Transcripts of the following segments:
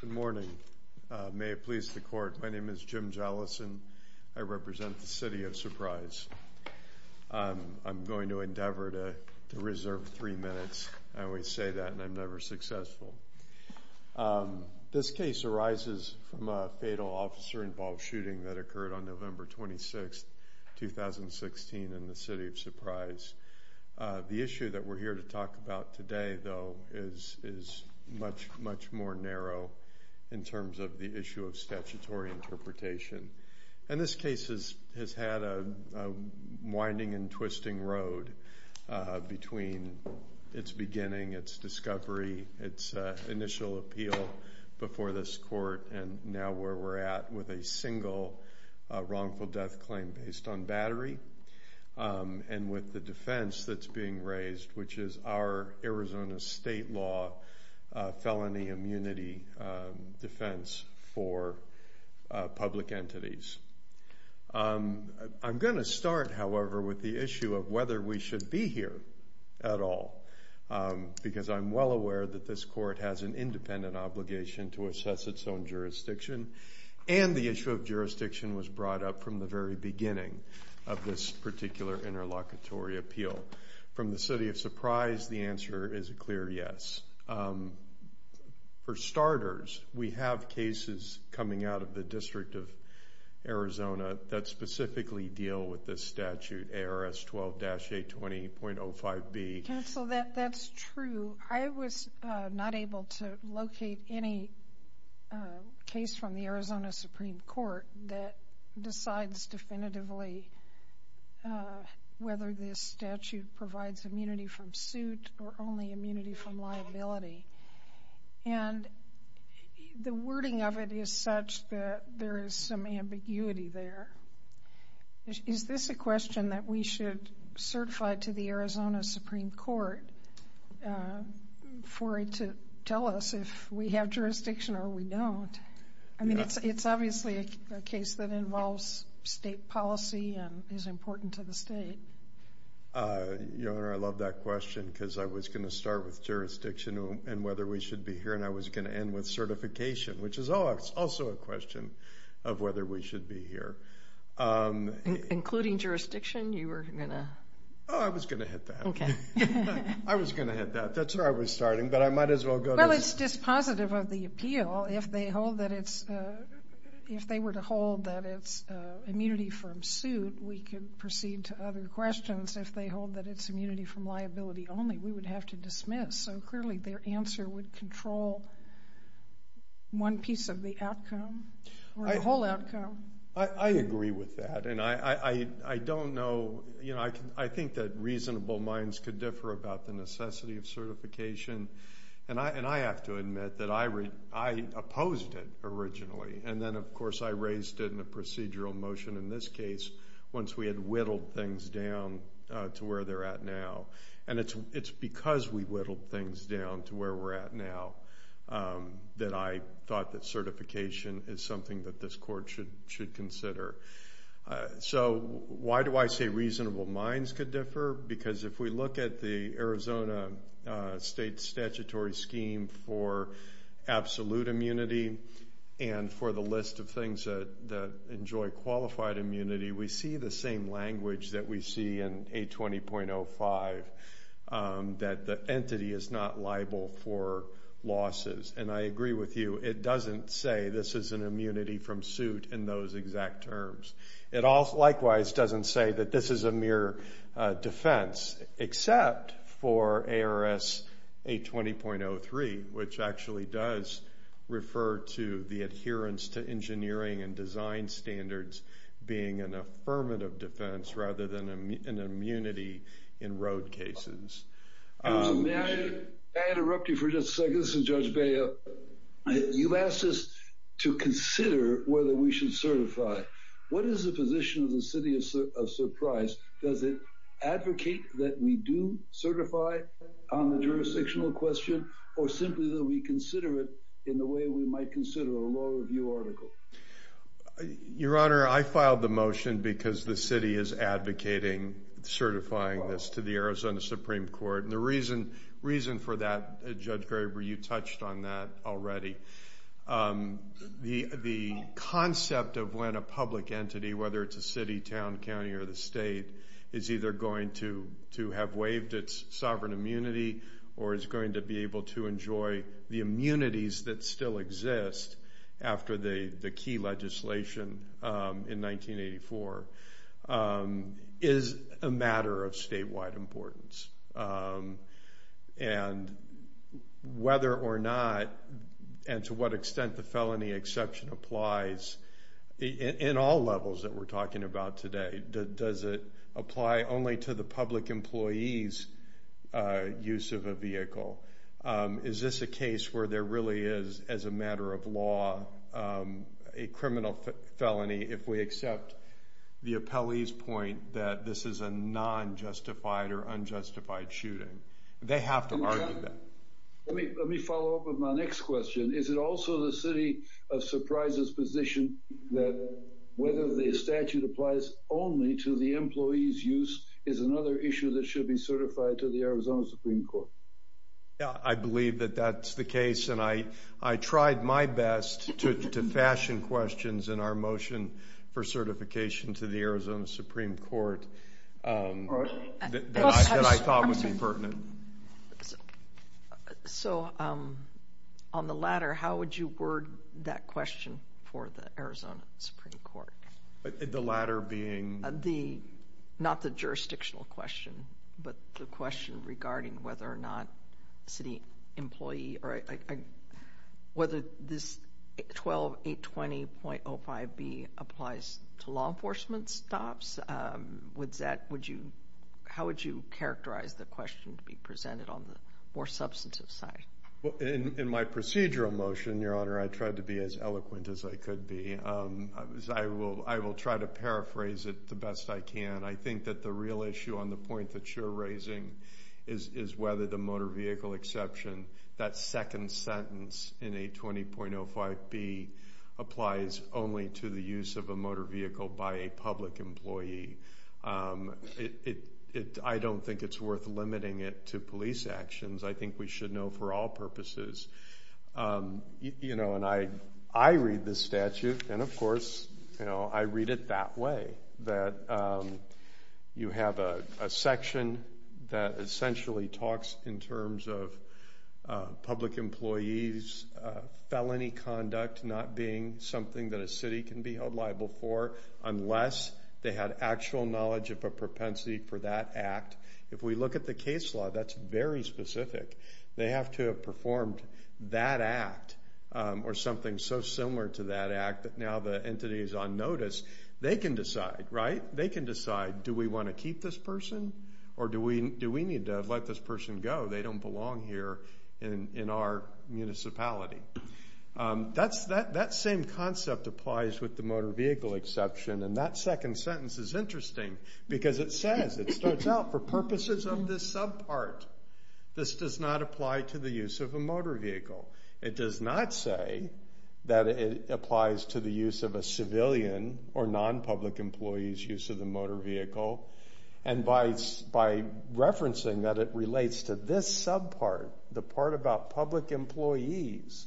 Good morning. May it please the court, my name is Jim Jellison. I represent the City of Surprise. I'm going to endeavor to reserve three minutes. I always say that and I'm never successful. This case arises from a fatal officer-involved shooting that occurred on January 1, 2016 in the City of Surprise. The issue that we're here to talk about today though is much, much more narrow in terms of the issue of statutory interpretation. And this case has had a winding and twisting road between its beginning, its discovery, its initial appeal before this court, and now where we're at with a single wrongful death claim based on battery and with the defense that's being raised, which is our Arizona state law felony immunity defense for public entities. I'm going to start however with the issue of whether we should be here at all because I'm well aware that this court has an independent obligation to assess its own jurisdiction and the issue of jurisdiction was brought up from the very beginning of this particular interlocutory appeal. From the City of Surprise, the answer is a clear yes. For starters, we have cases coming out of the District of Arizona that specifically deal with this statute, ARS 12-820.05B. Counsel, that's true. I was not able to locate any case from the Arizona Supreme Court that decides definitively whether this statute provides immunity from suit or only immunity from liability. And the wording of it is such that there is some ambiguity there. Is this a question that we should certify to the Arizona Supreme Court for it to tell us if we have jurisdiction or we don't? I mean, it's obviously a case that involves state policy and is important to the state. Your Honor, I love that question because I was going to start with jurisdiction and whether we should be here and I was going to end with certification, which is also a question of whether we should be here. Including jurisdiction, you were going to... Oh, I was going to hit that. I was going to hit that. That's where I was starting, but I might as well go to... Well, it's dispositive of the appeal. If they were to hold that it's immunity from suit, we could proceed to other questions. If they hold that it's immunity from liability only, we would have to dismiss. So clearly their answer would control one piece of the outcome or the whole outcome. I agree with that and I don't know... I think that reasonable minds could differ about the necessity of certification and I have to admit that I opposed it originally and then, of course, I raised it in a procedural motion in this case once we had whittled things down to where they're at now. And it's because we whittled things down to where we're at now that I thought that certification is something that this court should consider. So why do I say reasonable minds could differ? Because if we look at the Arizona State statutory scheme for absolute immunity and for the list of things that enjoy qualified immunity, we see the same language that we see in A20.05 that the entity is not liable for losses. And I agree with you. It doesn't say this is an immunity from suit in those exact terms. It also, likewise, doesn't say that this is a mere defense except for being an affirmative defense rather than an immunity in road cases. May I interrupt you for just a second? This is Judge Beah. You've asked us to consider whether we should certify. What is the position of the city of Surprise? Does it advocate that we do certify on the jurisdictional question or simply that we consider it in the way we might consider a law review article? Your Honor, I filed the motion because the city is advocating certifying this to the Arizona Supreme Court. And the reason for that, Judge Graber, you touched on that already. The concept of when a public entity, whether it's a city, town, county, or the state, is either going to have waived its sovereign immunity or is going to be able to enjoy the after the key legislation in 1984, is a matter of statewide importance. And whether or not and to what extent the felony exception applies in all levels that we're talking about today, does it apply only to the public employee's use of a vehicle? Is this a case where there really is, as a matter of law, a criminal felony if we accept the appellee's point that this is a non-justified or unjustified shooting? They have to argue that. Let me follow up with my next question. Is it also the city of Surprise's position that whether the statute applies only to the employee's use is another issue that should be certified to the Arizona Supreme Court? Yeah, I believe that that's the case. And I tried my best to fashion questions in our motion for certification to the Arizona Supreme Court that I thought would be pertinent. So on the latter, how would you word that question for the Arizona Supreme Court? The latter being? The, not the jurisdictional question, but the question regarding whether or not city employee or whether this 12820.05B applies to law enforcement stops. Would that, would you, how would you characterize the question to be presented on the more substantive side? In my procedural motion, Your Honor, I tried to be as eloquent as I could be. I will try to paraphrase it the best I can. I think that the real issue on the point that you're raising is whether the motor vehicle exception, that second sentence in 820.05B applies only to the use of a motor vehicle by a public employee. I don't think it's worth limiting it to police actions. I think we should know for all purposes. You know, and I read this that way, that you have a section that essentially talks in terms of public employees' felony conduct not being something that a city can be held liable for unless they had actual knowledge of a propensity for that act. If we look at the case law, that's very specific. They have to have performed that act or something so similar to that act that now the entity is on notice. They can decide, right? They can decide, do we want to keep this person or do we need to let this person go? They don't belong here in our municipality. That same concept applies with the motor vehicle exception and that second sentence is interesting because it says, it starts out, for purposes of this subpart, this does not apply to the civilian or non-public employees' use of the motor vehicle and by referencing that it relates to this subpart, the part about public employees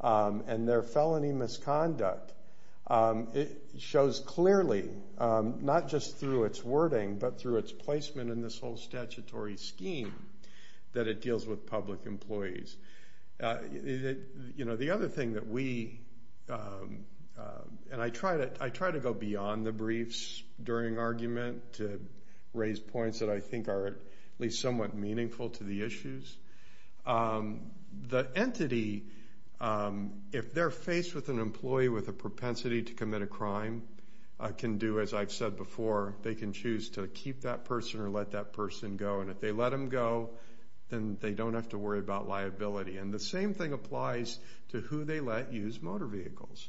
and their felony misconduct, it shows clearly, not just through its wording, but through its placement in this whole statutory scheme that it deals with public employees. The other thing that we, and I try to go beyond the briefs during argument to raise points that I think are at least somewhat meaningful to the issues. The entity, if they're faced with an employee with a propensity to commit a crime, can do, as I've said before, they can choose to keep that person or let that person go and if they let them go, then they don't have to worry about liability and the same thing applies to who they let use motor vehicles.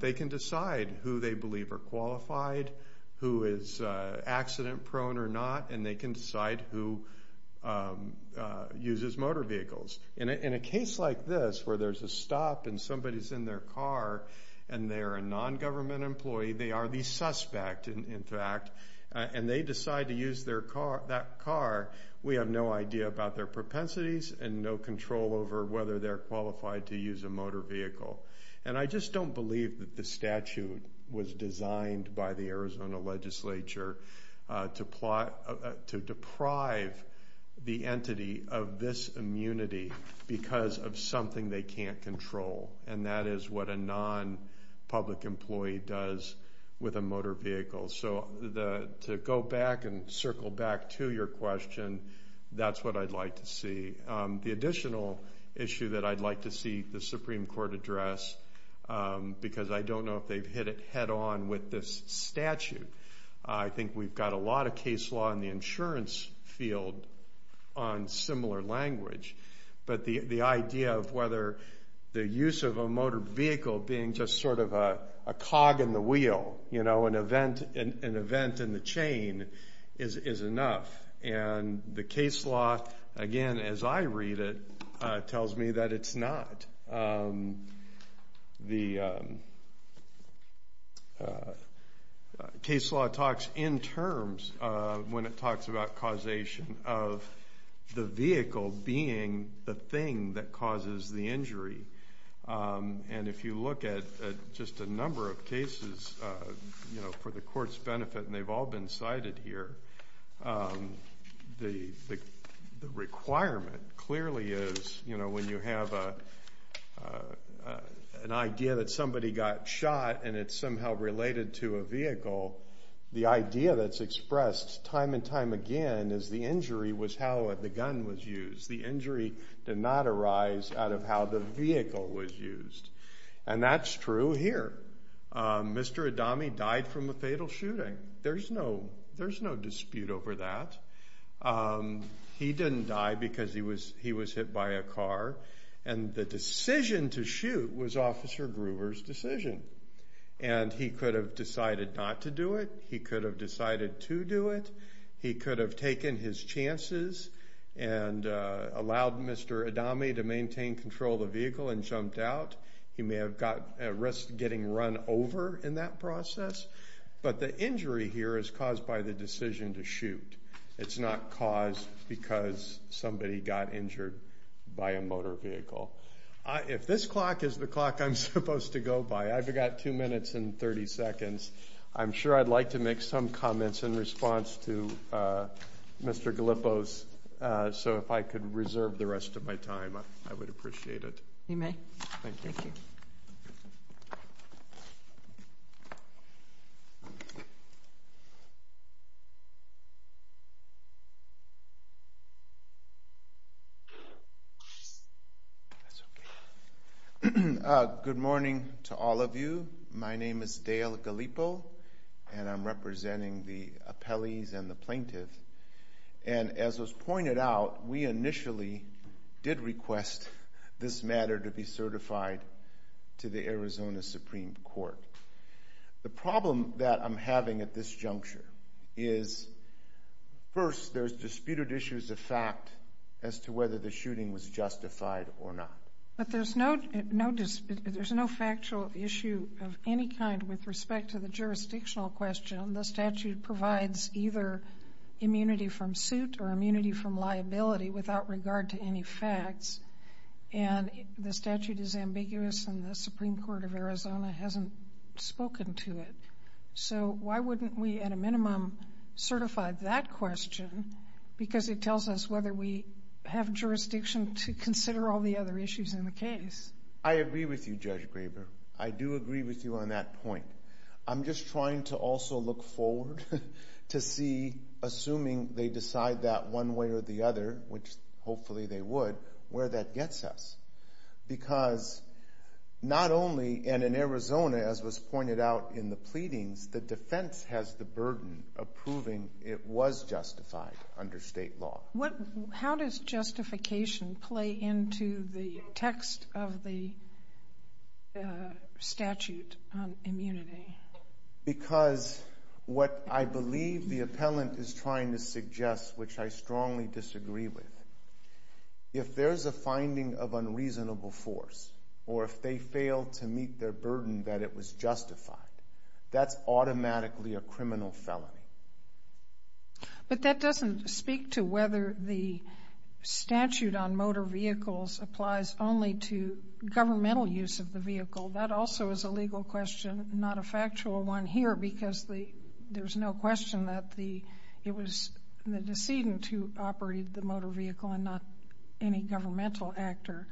They can decide who they believe are qualified, who is accident prone or not, and they can decide who uses motor vehicles. In a case like this where there's a stop and somebody's in their car and they're a non-government employee, they are the suspect in fact, and they decide to use that car, we have no idea about their propensities and no control over whether they're qualified to use a motor vehicle. And I just don't believe that the statute was designed by the Arizona legislature to deprive the entity of this immunity because of something they can't control and that is what a non-public employee does with a motor vehicle. So to go back and circle back to your question, that's what I'd like to see. The additional issue that I'd like to see the Supreme Court address, because I don't know if they've hit it head on with this statute, I think we've got a lot of case law in the insurance field on similar language, but the use of a motor vehicle being just sort of a cog in the wheel, you know, an event in the chain is enough. And the case law, again, as I read it, tells me that it's not. The case law talks in terms, when it talks about causation, of the vehicle being the thing that causes the injury. And if you look at just a number of cases, you know, for the court's benefit, and they've all been cited here, the requirement clearly is, you know, when you have an idea that somebody got shot and it's somehow related to a vehicle, the idea that's expressed time and time again is the injury was how the gun was used. The shot arise out of how the vehicle was used. And that's true here. Mr. Adami died from a fatal shooting. There's no dispute over that. He didn't die because he was hit by a car. And the decision to shoot was Officer Gruber's decision. And he could have decided not to do it. He could have decided to do it. He could have taken his chances and allowed Mr. Adami to maintain control of the vehicle and jumped out. He may have got at risk getting run over in that process. But the injury here is caused by the decision to shoot. It's not caused because somebody got injured by a motor vehicle. If this clock is the clock I'm supposed to go by, I've got two minutes and 30 seconds. I'm sure I'd like to make some comments in the rest of my time. I would appreciate it. You may. Thank you. Good morning to all of you. My name is Dale Gallipo and I'm representing the appellees and the plaintiffs. And as was stated, I did request this matter to be certified to the Arizona Supreme Court. The problem that I'm having at this juncture is, first, there's disputed issues of fact as to whether the shooting was justified or not. But there's no factual issue of any kind with respect to the jurisdictional question. The statute provides either immunity from suit or immunity from liability without regard to any facts. And the statute is ambiguous and the Supreme Court of Arizona hasn't spoken to it. So why wouldn't we, at a minimum, certify that question? Because it tells us whether we have jurisdiction to consider all the other issues in the case. I agree with you, Judge Graber. I do agree with you on that point. I'm just trying to also look forward to see, assuming they decide that one way or the other, which hopefully they would, where that gets us. Because not only, and in Arizona, as was pointed out in the pleadings, the defense has the burden of proving it was justified under state law. How does justification play into the text of the statute on immunity? Because what I believe the appellant is trying to suggest, which I strongly disagree with, if there's a finding of unreasonable force or if they fail to meet their burden that it was justified, that's automatically a criminal felony. But that doesn't speak to whether the statute on motor vehicles applies only to governmental use of the vehicle. That also is a legal question, not a factual one here, because there's no question that it was the decedent who operated the motor vehicle and not any governmental actor.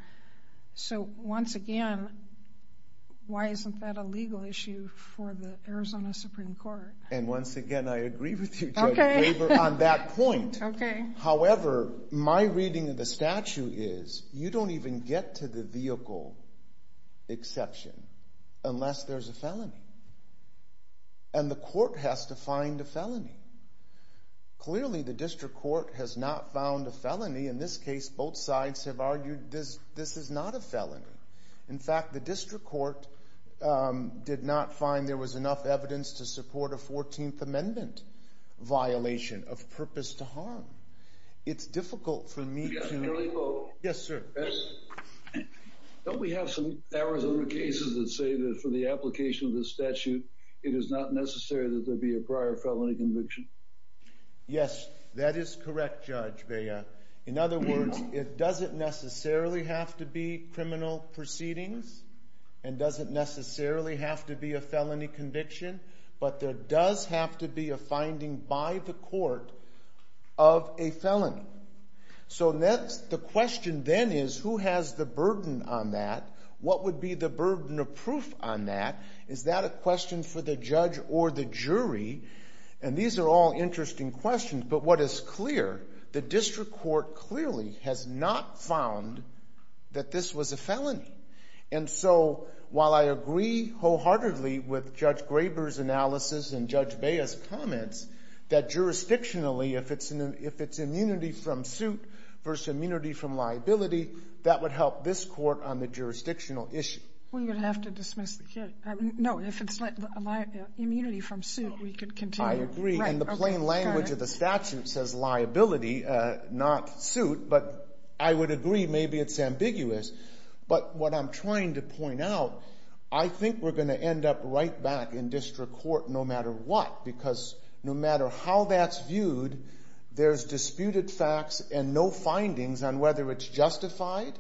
So once again, why isn't that a legal issue for the Arizona Supreme Court? And once again, I agree with you, Judge Weber, on that point. However, my reading of the statute is you don't even get to the vehicle exception unless there's a felony. And the court has to find a felony. Clearly, the district court has not found a felony. In this case, both sides have argued this is not a felony. In fact, the district court did not find there was enough evidence to support a 14th Amendment violation of purpose to harm. It's difficult for me to... Yes, Your Honor. Yes, sir. Don't we have some Arizona cases that say that for the application of the statute, it is not necessary that there be a prior felony conviction? Yes, that is correct, Judge Bea. In other words, it doesn't necessarily have to be criminal conviction, but there does have to be a finding by the court of a felony. So the question then is, who has the burden on that? What would be the burden of proof on that? Is that a question for the judge or the jury? And these are all interesting questions, but what is clear, the district court clearly has not found that this was a felony. And so while I agree wholeheartedly with Judge Graber's analysis and Judge Bea's comments that jurisdictionally, if it's immunity from suit versus immunity from liability, that would help this court on the jurisdictional issue. We're going to have to dismiss the case. No, if it's immunity from suit, we could continue. I agree. And the plain language of the statute says liability, not suit, but I would agree maybe it's ambiguous. But what I'm trying to point out, I think we're going to end up right back in district court no matter what, because no matter how that's viewed, there's disputed facts and no findings on whether it's justified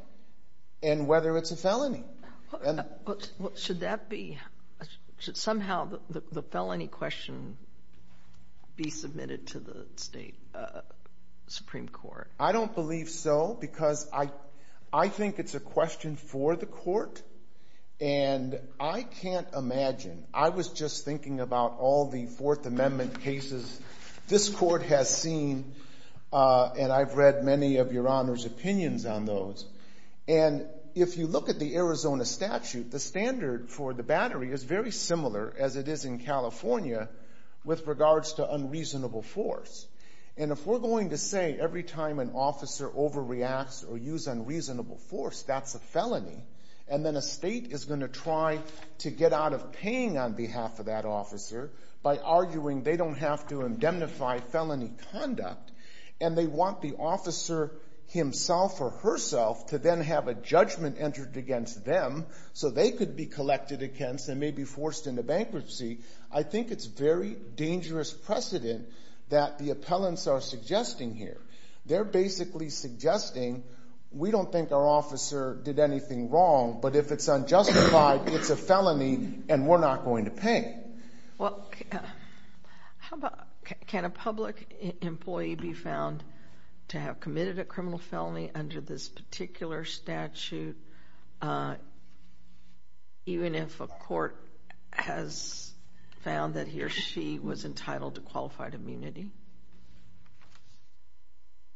and whether it's a felony. Should that be, should somehow the felony question be submitted to the state Supreme Court? I don't believe so because I think it's a question for the court and I can't imagine. I was just thinking about all the Fourth Amendment cases this court has seen and I've read many of Your Honor's opinions on those. And if you look at the Arizona statute, the standard for the battery is very similar as it is in California with regards to unreasonable force. And if we're going to say every time an officer overreacts or use unreasonable force, that's a felony, and then a state is going to try to get out of paying on behalf of that officer by arguing they don't have to indemnify felony conduct, and they want the officer himself or herself to then have a judgment entered against them so they could be collected against and may be forced into bankruptcy. I think it's very dangerous precedent that the appellants are suggesting here. They're basically suggesting we don't think our officer did anything wrong, but if it's unjustified, it's a felony and we're not going to pay. Well, how about, can a public employee be found to have committed a criminal felony under this particular statute even if a court has found that he or she was entitled to qualified immunity?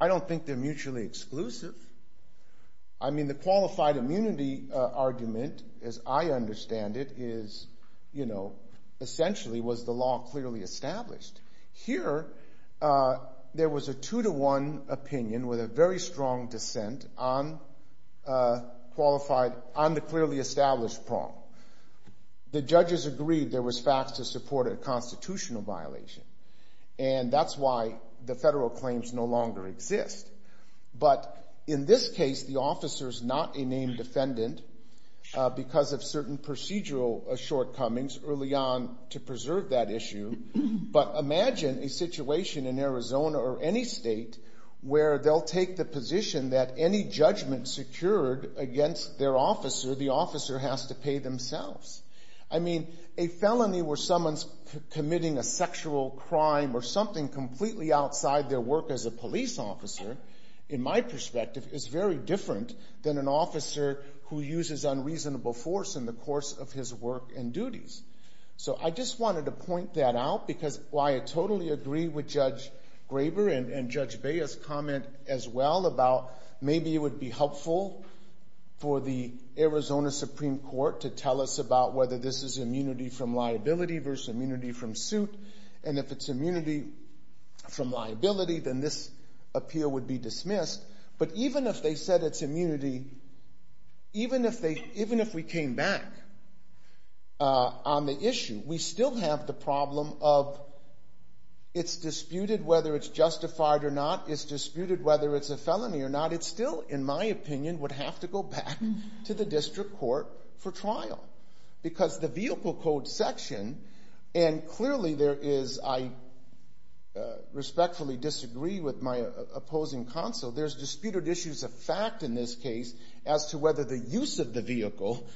I don't think they're mutually exclusive. I mean, the qualified immunity argument, as I understand it, is, you know, essentially was the law clearly established. Here, there was a two-to-one opinion with a very strong dissent on the clearly established problem. The judges agreed there was facts to support a constitutional violation, and that's why the federal claims no longer exist. But in this case, the officer's not a named defendant because of certain procedural shortcomings early on to preserve that issue, but imagine a situation in Arizona or any state where they'll take the position that any judgment secured against their officer, the officer has to pay themselves. I mean, a felony where someone's committing a sexual crime or something completely outside their work as a police officer, in my perspective, is very different than an officer who uses unreasonable force in the course of his work and duties. So I just wanted to point that out because why I totally agree with Judge Graber and Judge Baez's comment as well about maybe it would be helpful for the Arizona Supreme Court to tell us about whether this is immunity from liability versus immunity from suit, and if it's immunity from liability, then this appeal would be dismissed. But even if they said it's immunity, even if we came back on the case, it's disputed whether it's justified or not, it's disputed whether it's a felony or not, it still, in my opinion, would have to go back to the district court for trial because the vehicle code section, and clearly there is, I respectfully disagree with my opposing counsel, there's disputed issues of fact in this case as to whether the use of the vehicle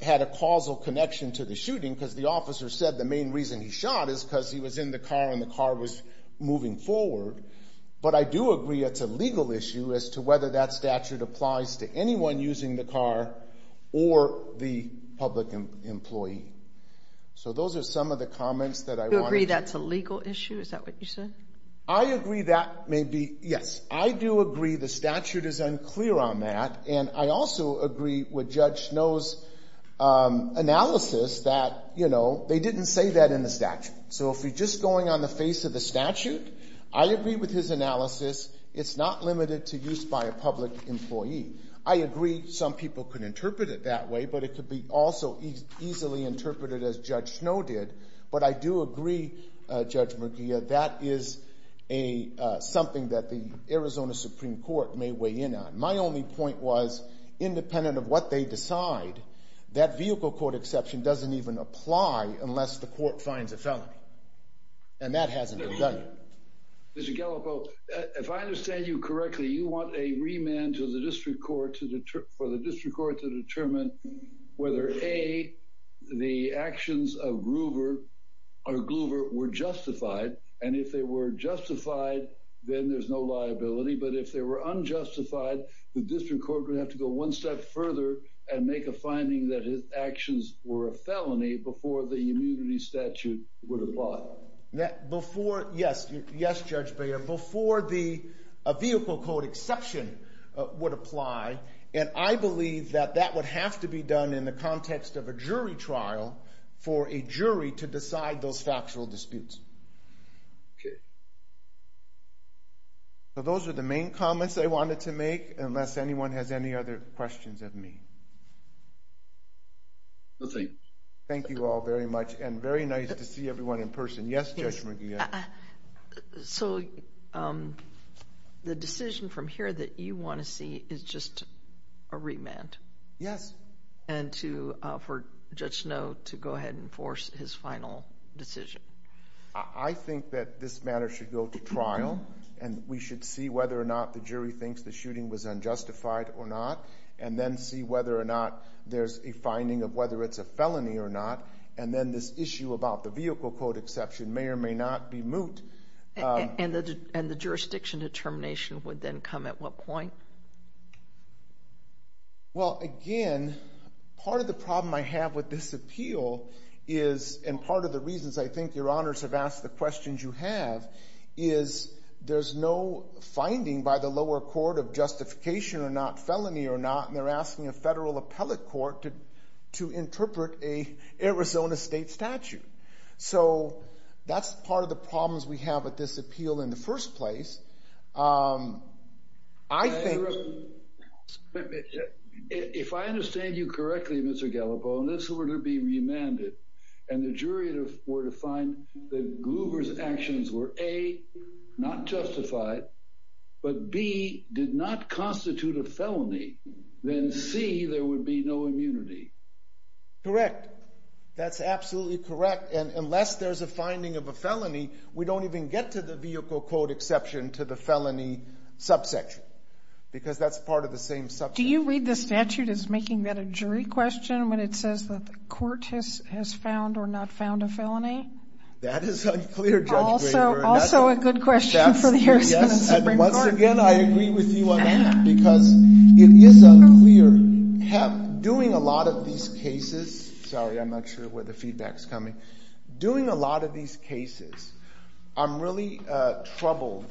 had a causal connection to the shooting because the officer said the main reason he shot is because he was in the car and the car was moving forward. But I do agree it's a legal issue as to whether that statute applies to anyone using the car or the public employee. So those are some of the comments that I wanted to... You agree that's a legal issue? Is that what you said? I agree that may be, yes. I do agree the statute is unclear on that, and I also agree with Judge Snow's analysis that, you know, they didn't say that in the statute. So if you're just going on the face of the statute, I agree with his analysis. It's not limited to use by a public employee. I agree some people could interpret it that way, but it could be also easily interpreted as Judge Snow did. But I do agree, Judge McGeeh, that is something that the Arizona Supreme Court may weigh in on. My only point was, independent of what they decide, that vehicle court exception doesn't even apply unless the court finds a felony. And that hasn't been done yet. Mr. Gallipo, if I understand you correctly, you want a remand to the district court for the district court to determine whether, A, the actions of Groover or Gloover were justified, and if they were justified, then there's no liability. But if they were unjustified, the district court would go ahead and make a finding that his actions were a felony before the immunity statute would apply. Yes, Judge Bader. Before the vehicle court exception would apply, and I believe that that would have to be done in the context of a jury trial for a jury to decide those factual disputes. Okay. So those are the main comments I wanted to make, unless anyone has any other questions of me. Nothing. Thank you all very much, and very nice to see everyone in person. Yes, Judge McGeeh? Yes. So the decision from here that you want to see is just a remand? Yes. And for Judge Snow to go ahead and enforce his final decision? I think that this matter should go to trial, and we should see whether or not the jury thinks the shooting was unjustified or not, and then see whether or not there's a finding of whether it's a felony or not, and then this issue about the vehicle court exception may or may not be moot. And the jurisdiction determination would then come at what point? Well, again, part of the problem I have with this appeal is, and part of the reasons I there's no finding by the lower court of justification or not, felony or not, and they're asking a federal appellate court to interpret an Arizona state statute. So that's part of the problems we have with this appeal in the first place. I think... If I understand you correctly, Mr. Gallipoli, and this were to be remanded, and the jury were to find that Gruber's actions were, A, not justified, but B, did not constitute a felony, then C, there would be no immunity. Correct. That's absolutely correct, and unless there's a finding of a felony, we don't even get to the vehicle court exception to the felony subsection, because that's part of the same subsection. Do you read the statute as making that a jury question when it says that the court has found or not found a felony? That is unclear, Judge Graber. Also a good question for the Arizona Supreme Court. Yes, and once again, I agree with you on that, because it is unclear. Doing a lot of these cases... Sorry, I'm not sure where the feedback's coming. Doing a lot of these cases, I'm really troubled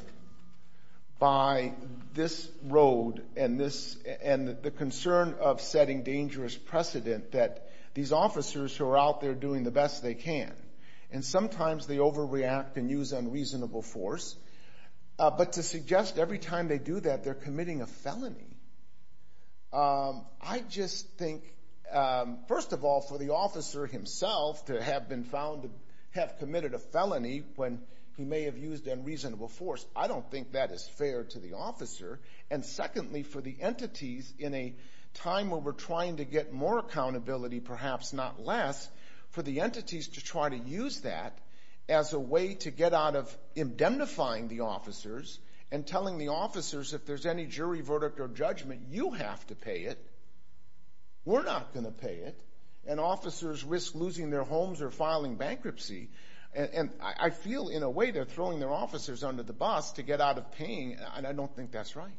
by this road and the concern of setting dangerous precedent that these officers who are out there doing the best they can, and sometimes they overreact and use unreasonable force, but to suggest every time they do that they're committing a felony, I just think, first of all, for the officer himself to have committed a felony when he may have used unreasonable force, I don't think that is fair to the officer, and secondly, for the entities in a time where we're trying to get more accountability, perhaps not less, for the entities to try to use that as a way to get out of indemnifying the officers and telling the officers if there's any jury verdict or judgment, you have to pay it, we're not going to pay it, and officers risk losing their homes or filing bankruptcy, and I feel in a way they're throwing their officers under the bus to get out of paying, and I don't think that's right.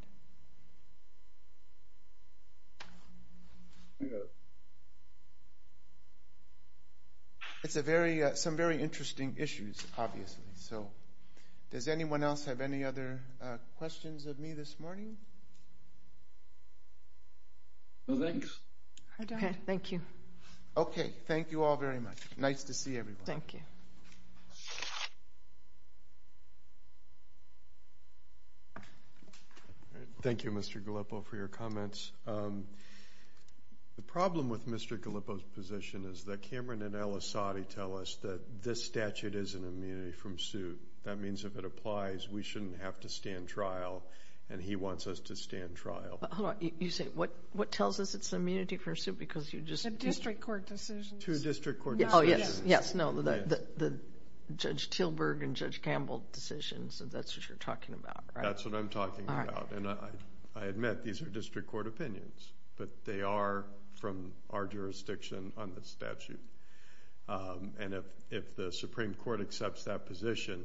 It's some very interesting issues, obviously, so does anyone else have any other questions of me this morning? No, thanks. I don't. Okay. Thank you. Okay. Thank you all very much. Nice to see everyone. Thank you, Mr. Gallipo, for your comments. The problem with Mr. Gallipo's position is that Cameron and El Assadi tell us that this statute is an immunity from suit. That means if it applies, we shouldn't have to stand trial, and he wants us to stand trial. Hold on. You say, what tells us it's an immunity from suit because you just... The district court decisions. To district court decisions. Oh, yes. Yes. No. The Judge Tilburg and Judge Campbell decisions, and that's what you're talking about, right? That's what I'm talking about, and I admit these are district court opinions, but they are from our jurisdiction on this statute, and if the Supreme Court accepts that position...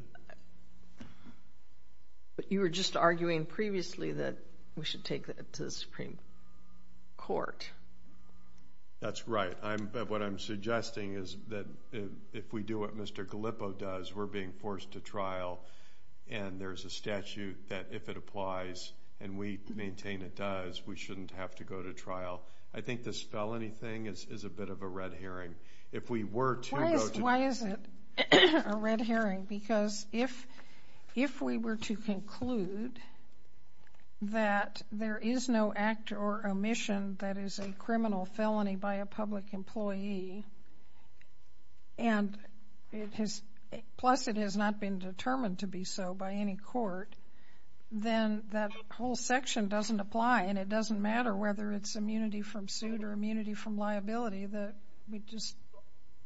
But you were just arguing previously that we should take that to the Supreme Court. That's right, but what I'm suggesting is that if we do what Mr. Gallipo does, we're being that if it applies and we maintain it does, we shouldn't have to go to trial. I think this felony thing is a bit of a red herring. If we were to go to... Why is it a red herring? Because if we were to conclude that there is no act or omission that is a criminal felony by a public employee, plus it has not been determined to be so by any court, then that whole section doesn't apply, and it doesn't matter whether it's immunity from suit or immunity from liability, that we'd just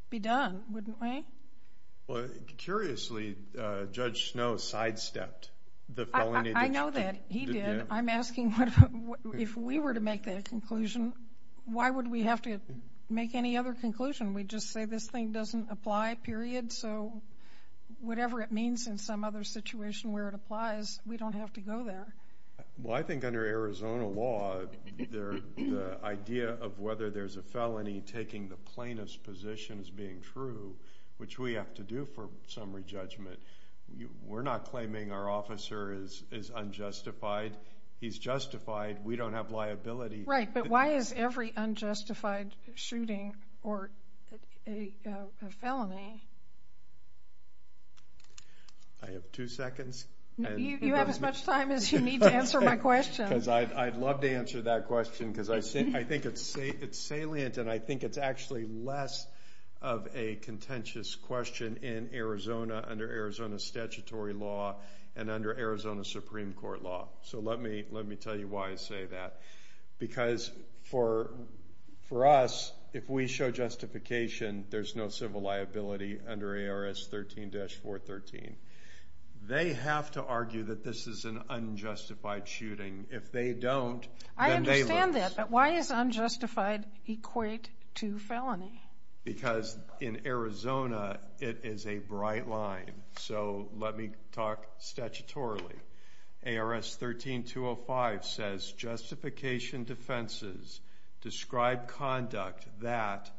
be done, wouldn't we? Curiously, Judge Snow sidestepped the felony... He did. Did you? I'm just asking, if we were to make that conclusion, why would we have to make any other conclusion? We'd just say this thing doesn't apply, period, so whatever it means in some other situation where it applies, we don't have to go there. Well, I think under Arizona law, the idea of whether there's a felony taking the plainest position as being true, which we have to do for summary judgment, we're not claiming our officer is unjustified. He's justified. We don't have liability. Right, but why is every unjustified shooting a felony? I have two seconds. You have as much time as you need to answer my question. Because I'd love to answer that question, because I think it's salient, and I think it's actually less of a contentious question in Arizona, under Arizona statutory law, and under Arizona Supreme Court law. So let me tell you why I say that. Because for us, if we show justification, there's no civil liability under ARS 13-413. They have to argue that this is an unjustified shooting. If they don't, then they lose. I understand that, but why does unjustified equate to felony? Because in Arizona, it is a bright line. So let me talk statutorily. ARS 13-205 says, justification defenses describe conduct that,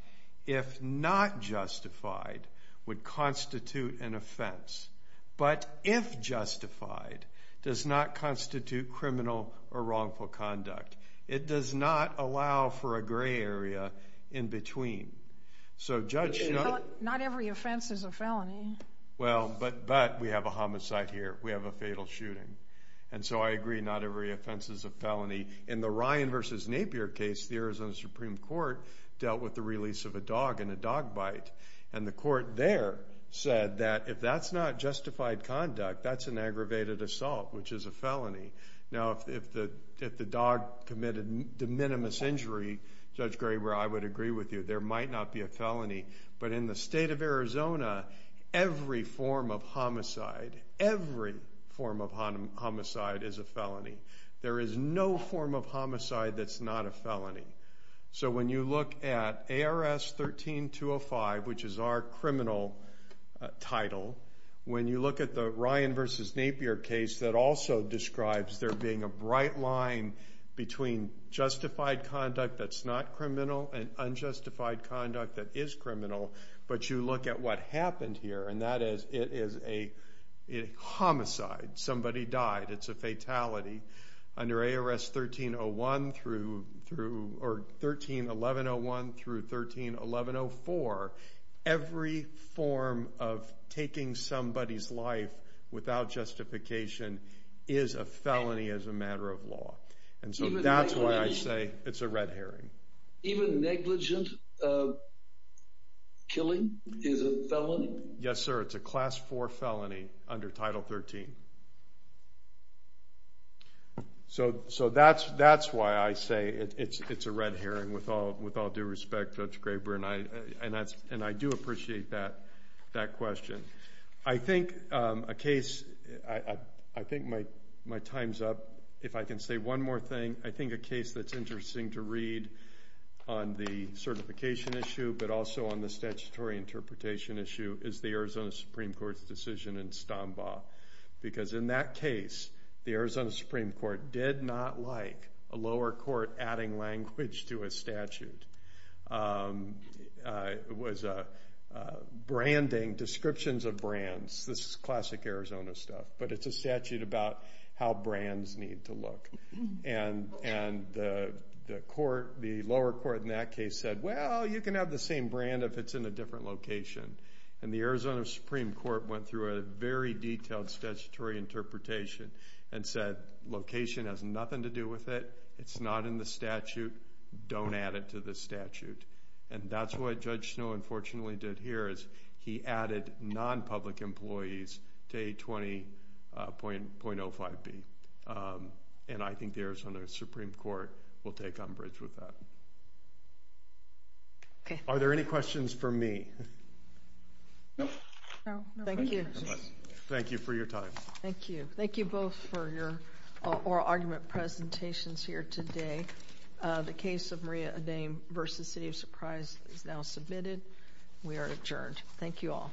if not justified, would constitute an offense. But if justified, does not constitute criminal or wrongful conduct. It does not allow for a gray area in between. So judge, not every offense is a felony. Well, but we have a homicide here. We have a fatal shooting. And so I agree, not every offense is a felony. In the Ryan versus Napier case, the Arizona Supreme Court dealt with the release of a dog in a dog bite. And the court there said that, if that's not justified conduct, that's an aggravated assault, which is a felony. Now, if the dog committed de minimis injury, Judge Graber, I would agree with you. There might not be a felony. But in the state of Arizona, every form of homicide, every form of homicide is a felony. There is no form of homicide that's not a felony. So when you look at ARS 13-205, which is our criminal title, when you look at the Ryan versus Napier case that also describes there being a bright line between justified conduct that's not criminal and unjustified conduct that is criminal. But you look at what happened here, and that is, it is a homicide. Somebody died. It's a fatality. Under ARS 13-1101 through 13-1104, every form of taking somebody's life without justification is a felony as a matter of law. And so that's why I say it's a red herring. Even negligent killing is a felony? Yes, sir. It's a Class 4 felony under Title 13. So that's why I say it's a red herring with all due respect, Judge Graber. And I do appreciate that question. I think a case, I think my time's up. If I can say one more thing, I think a case that's interesting to read on the certification issue, but also on the statutory interpretation issue, is the Arizona Supreme Court's decision in Stombaugh. Because in that case, the Arizona Supreme Court did not like a lower court adding language to a statute. It was branding, descriptions of brands. This is classic Arizona stuff. But it's a statute about how brands need to look. And the lower court in that case said, well, you can have the same brand if it's in a different location. And the Arizona Supreme Court went through a very detailed statutory interpretation and said, location has nothing to do with it. It's not in the statute. Don't add it to the statute. And that's what Judge Snowe unfortunately did here, is he added non-public employees to A20.05b. And I think the Arizona Supreme Court will take umbrage with that. Are there any questions for me? No. No. Thank you. Thank you for your time. Thank you. Thank you both for your oral argument presentations here today. The case of Maria Adame v. City of Surprise is now submitted. We are adjourned. Thank you all.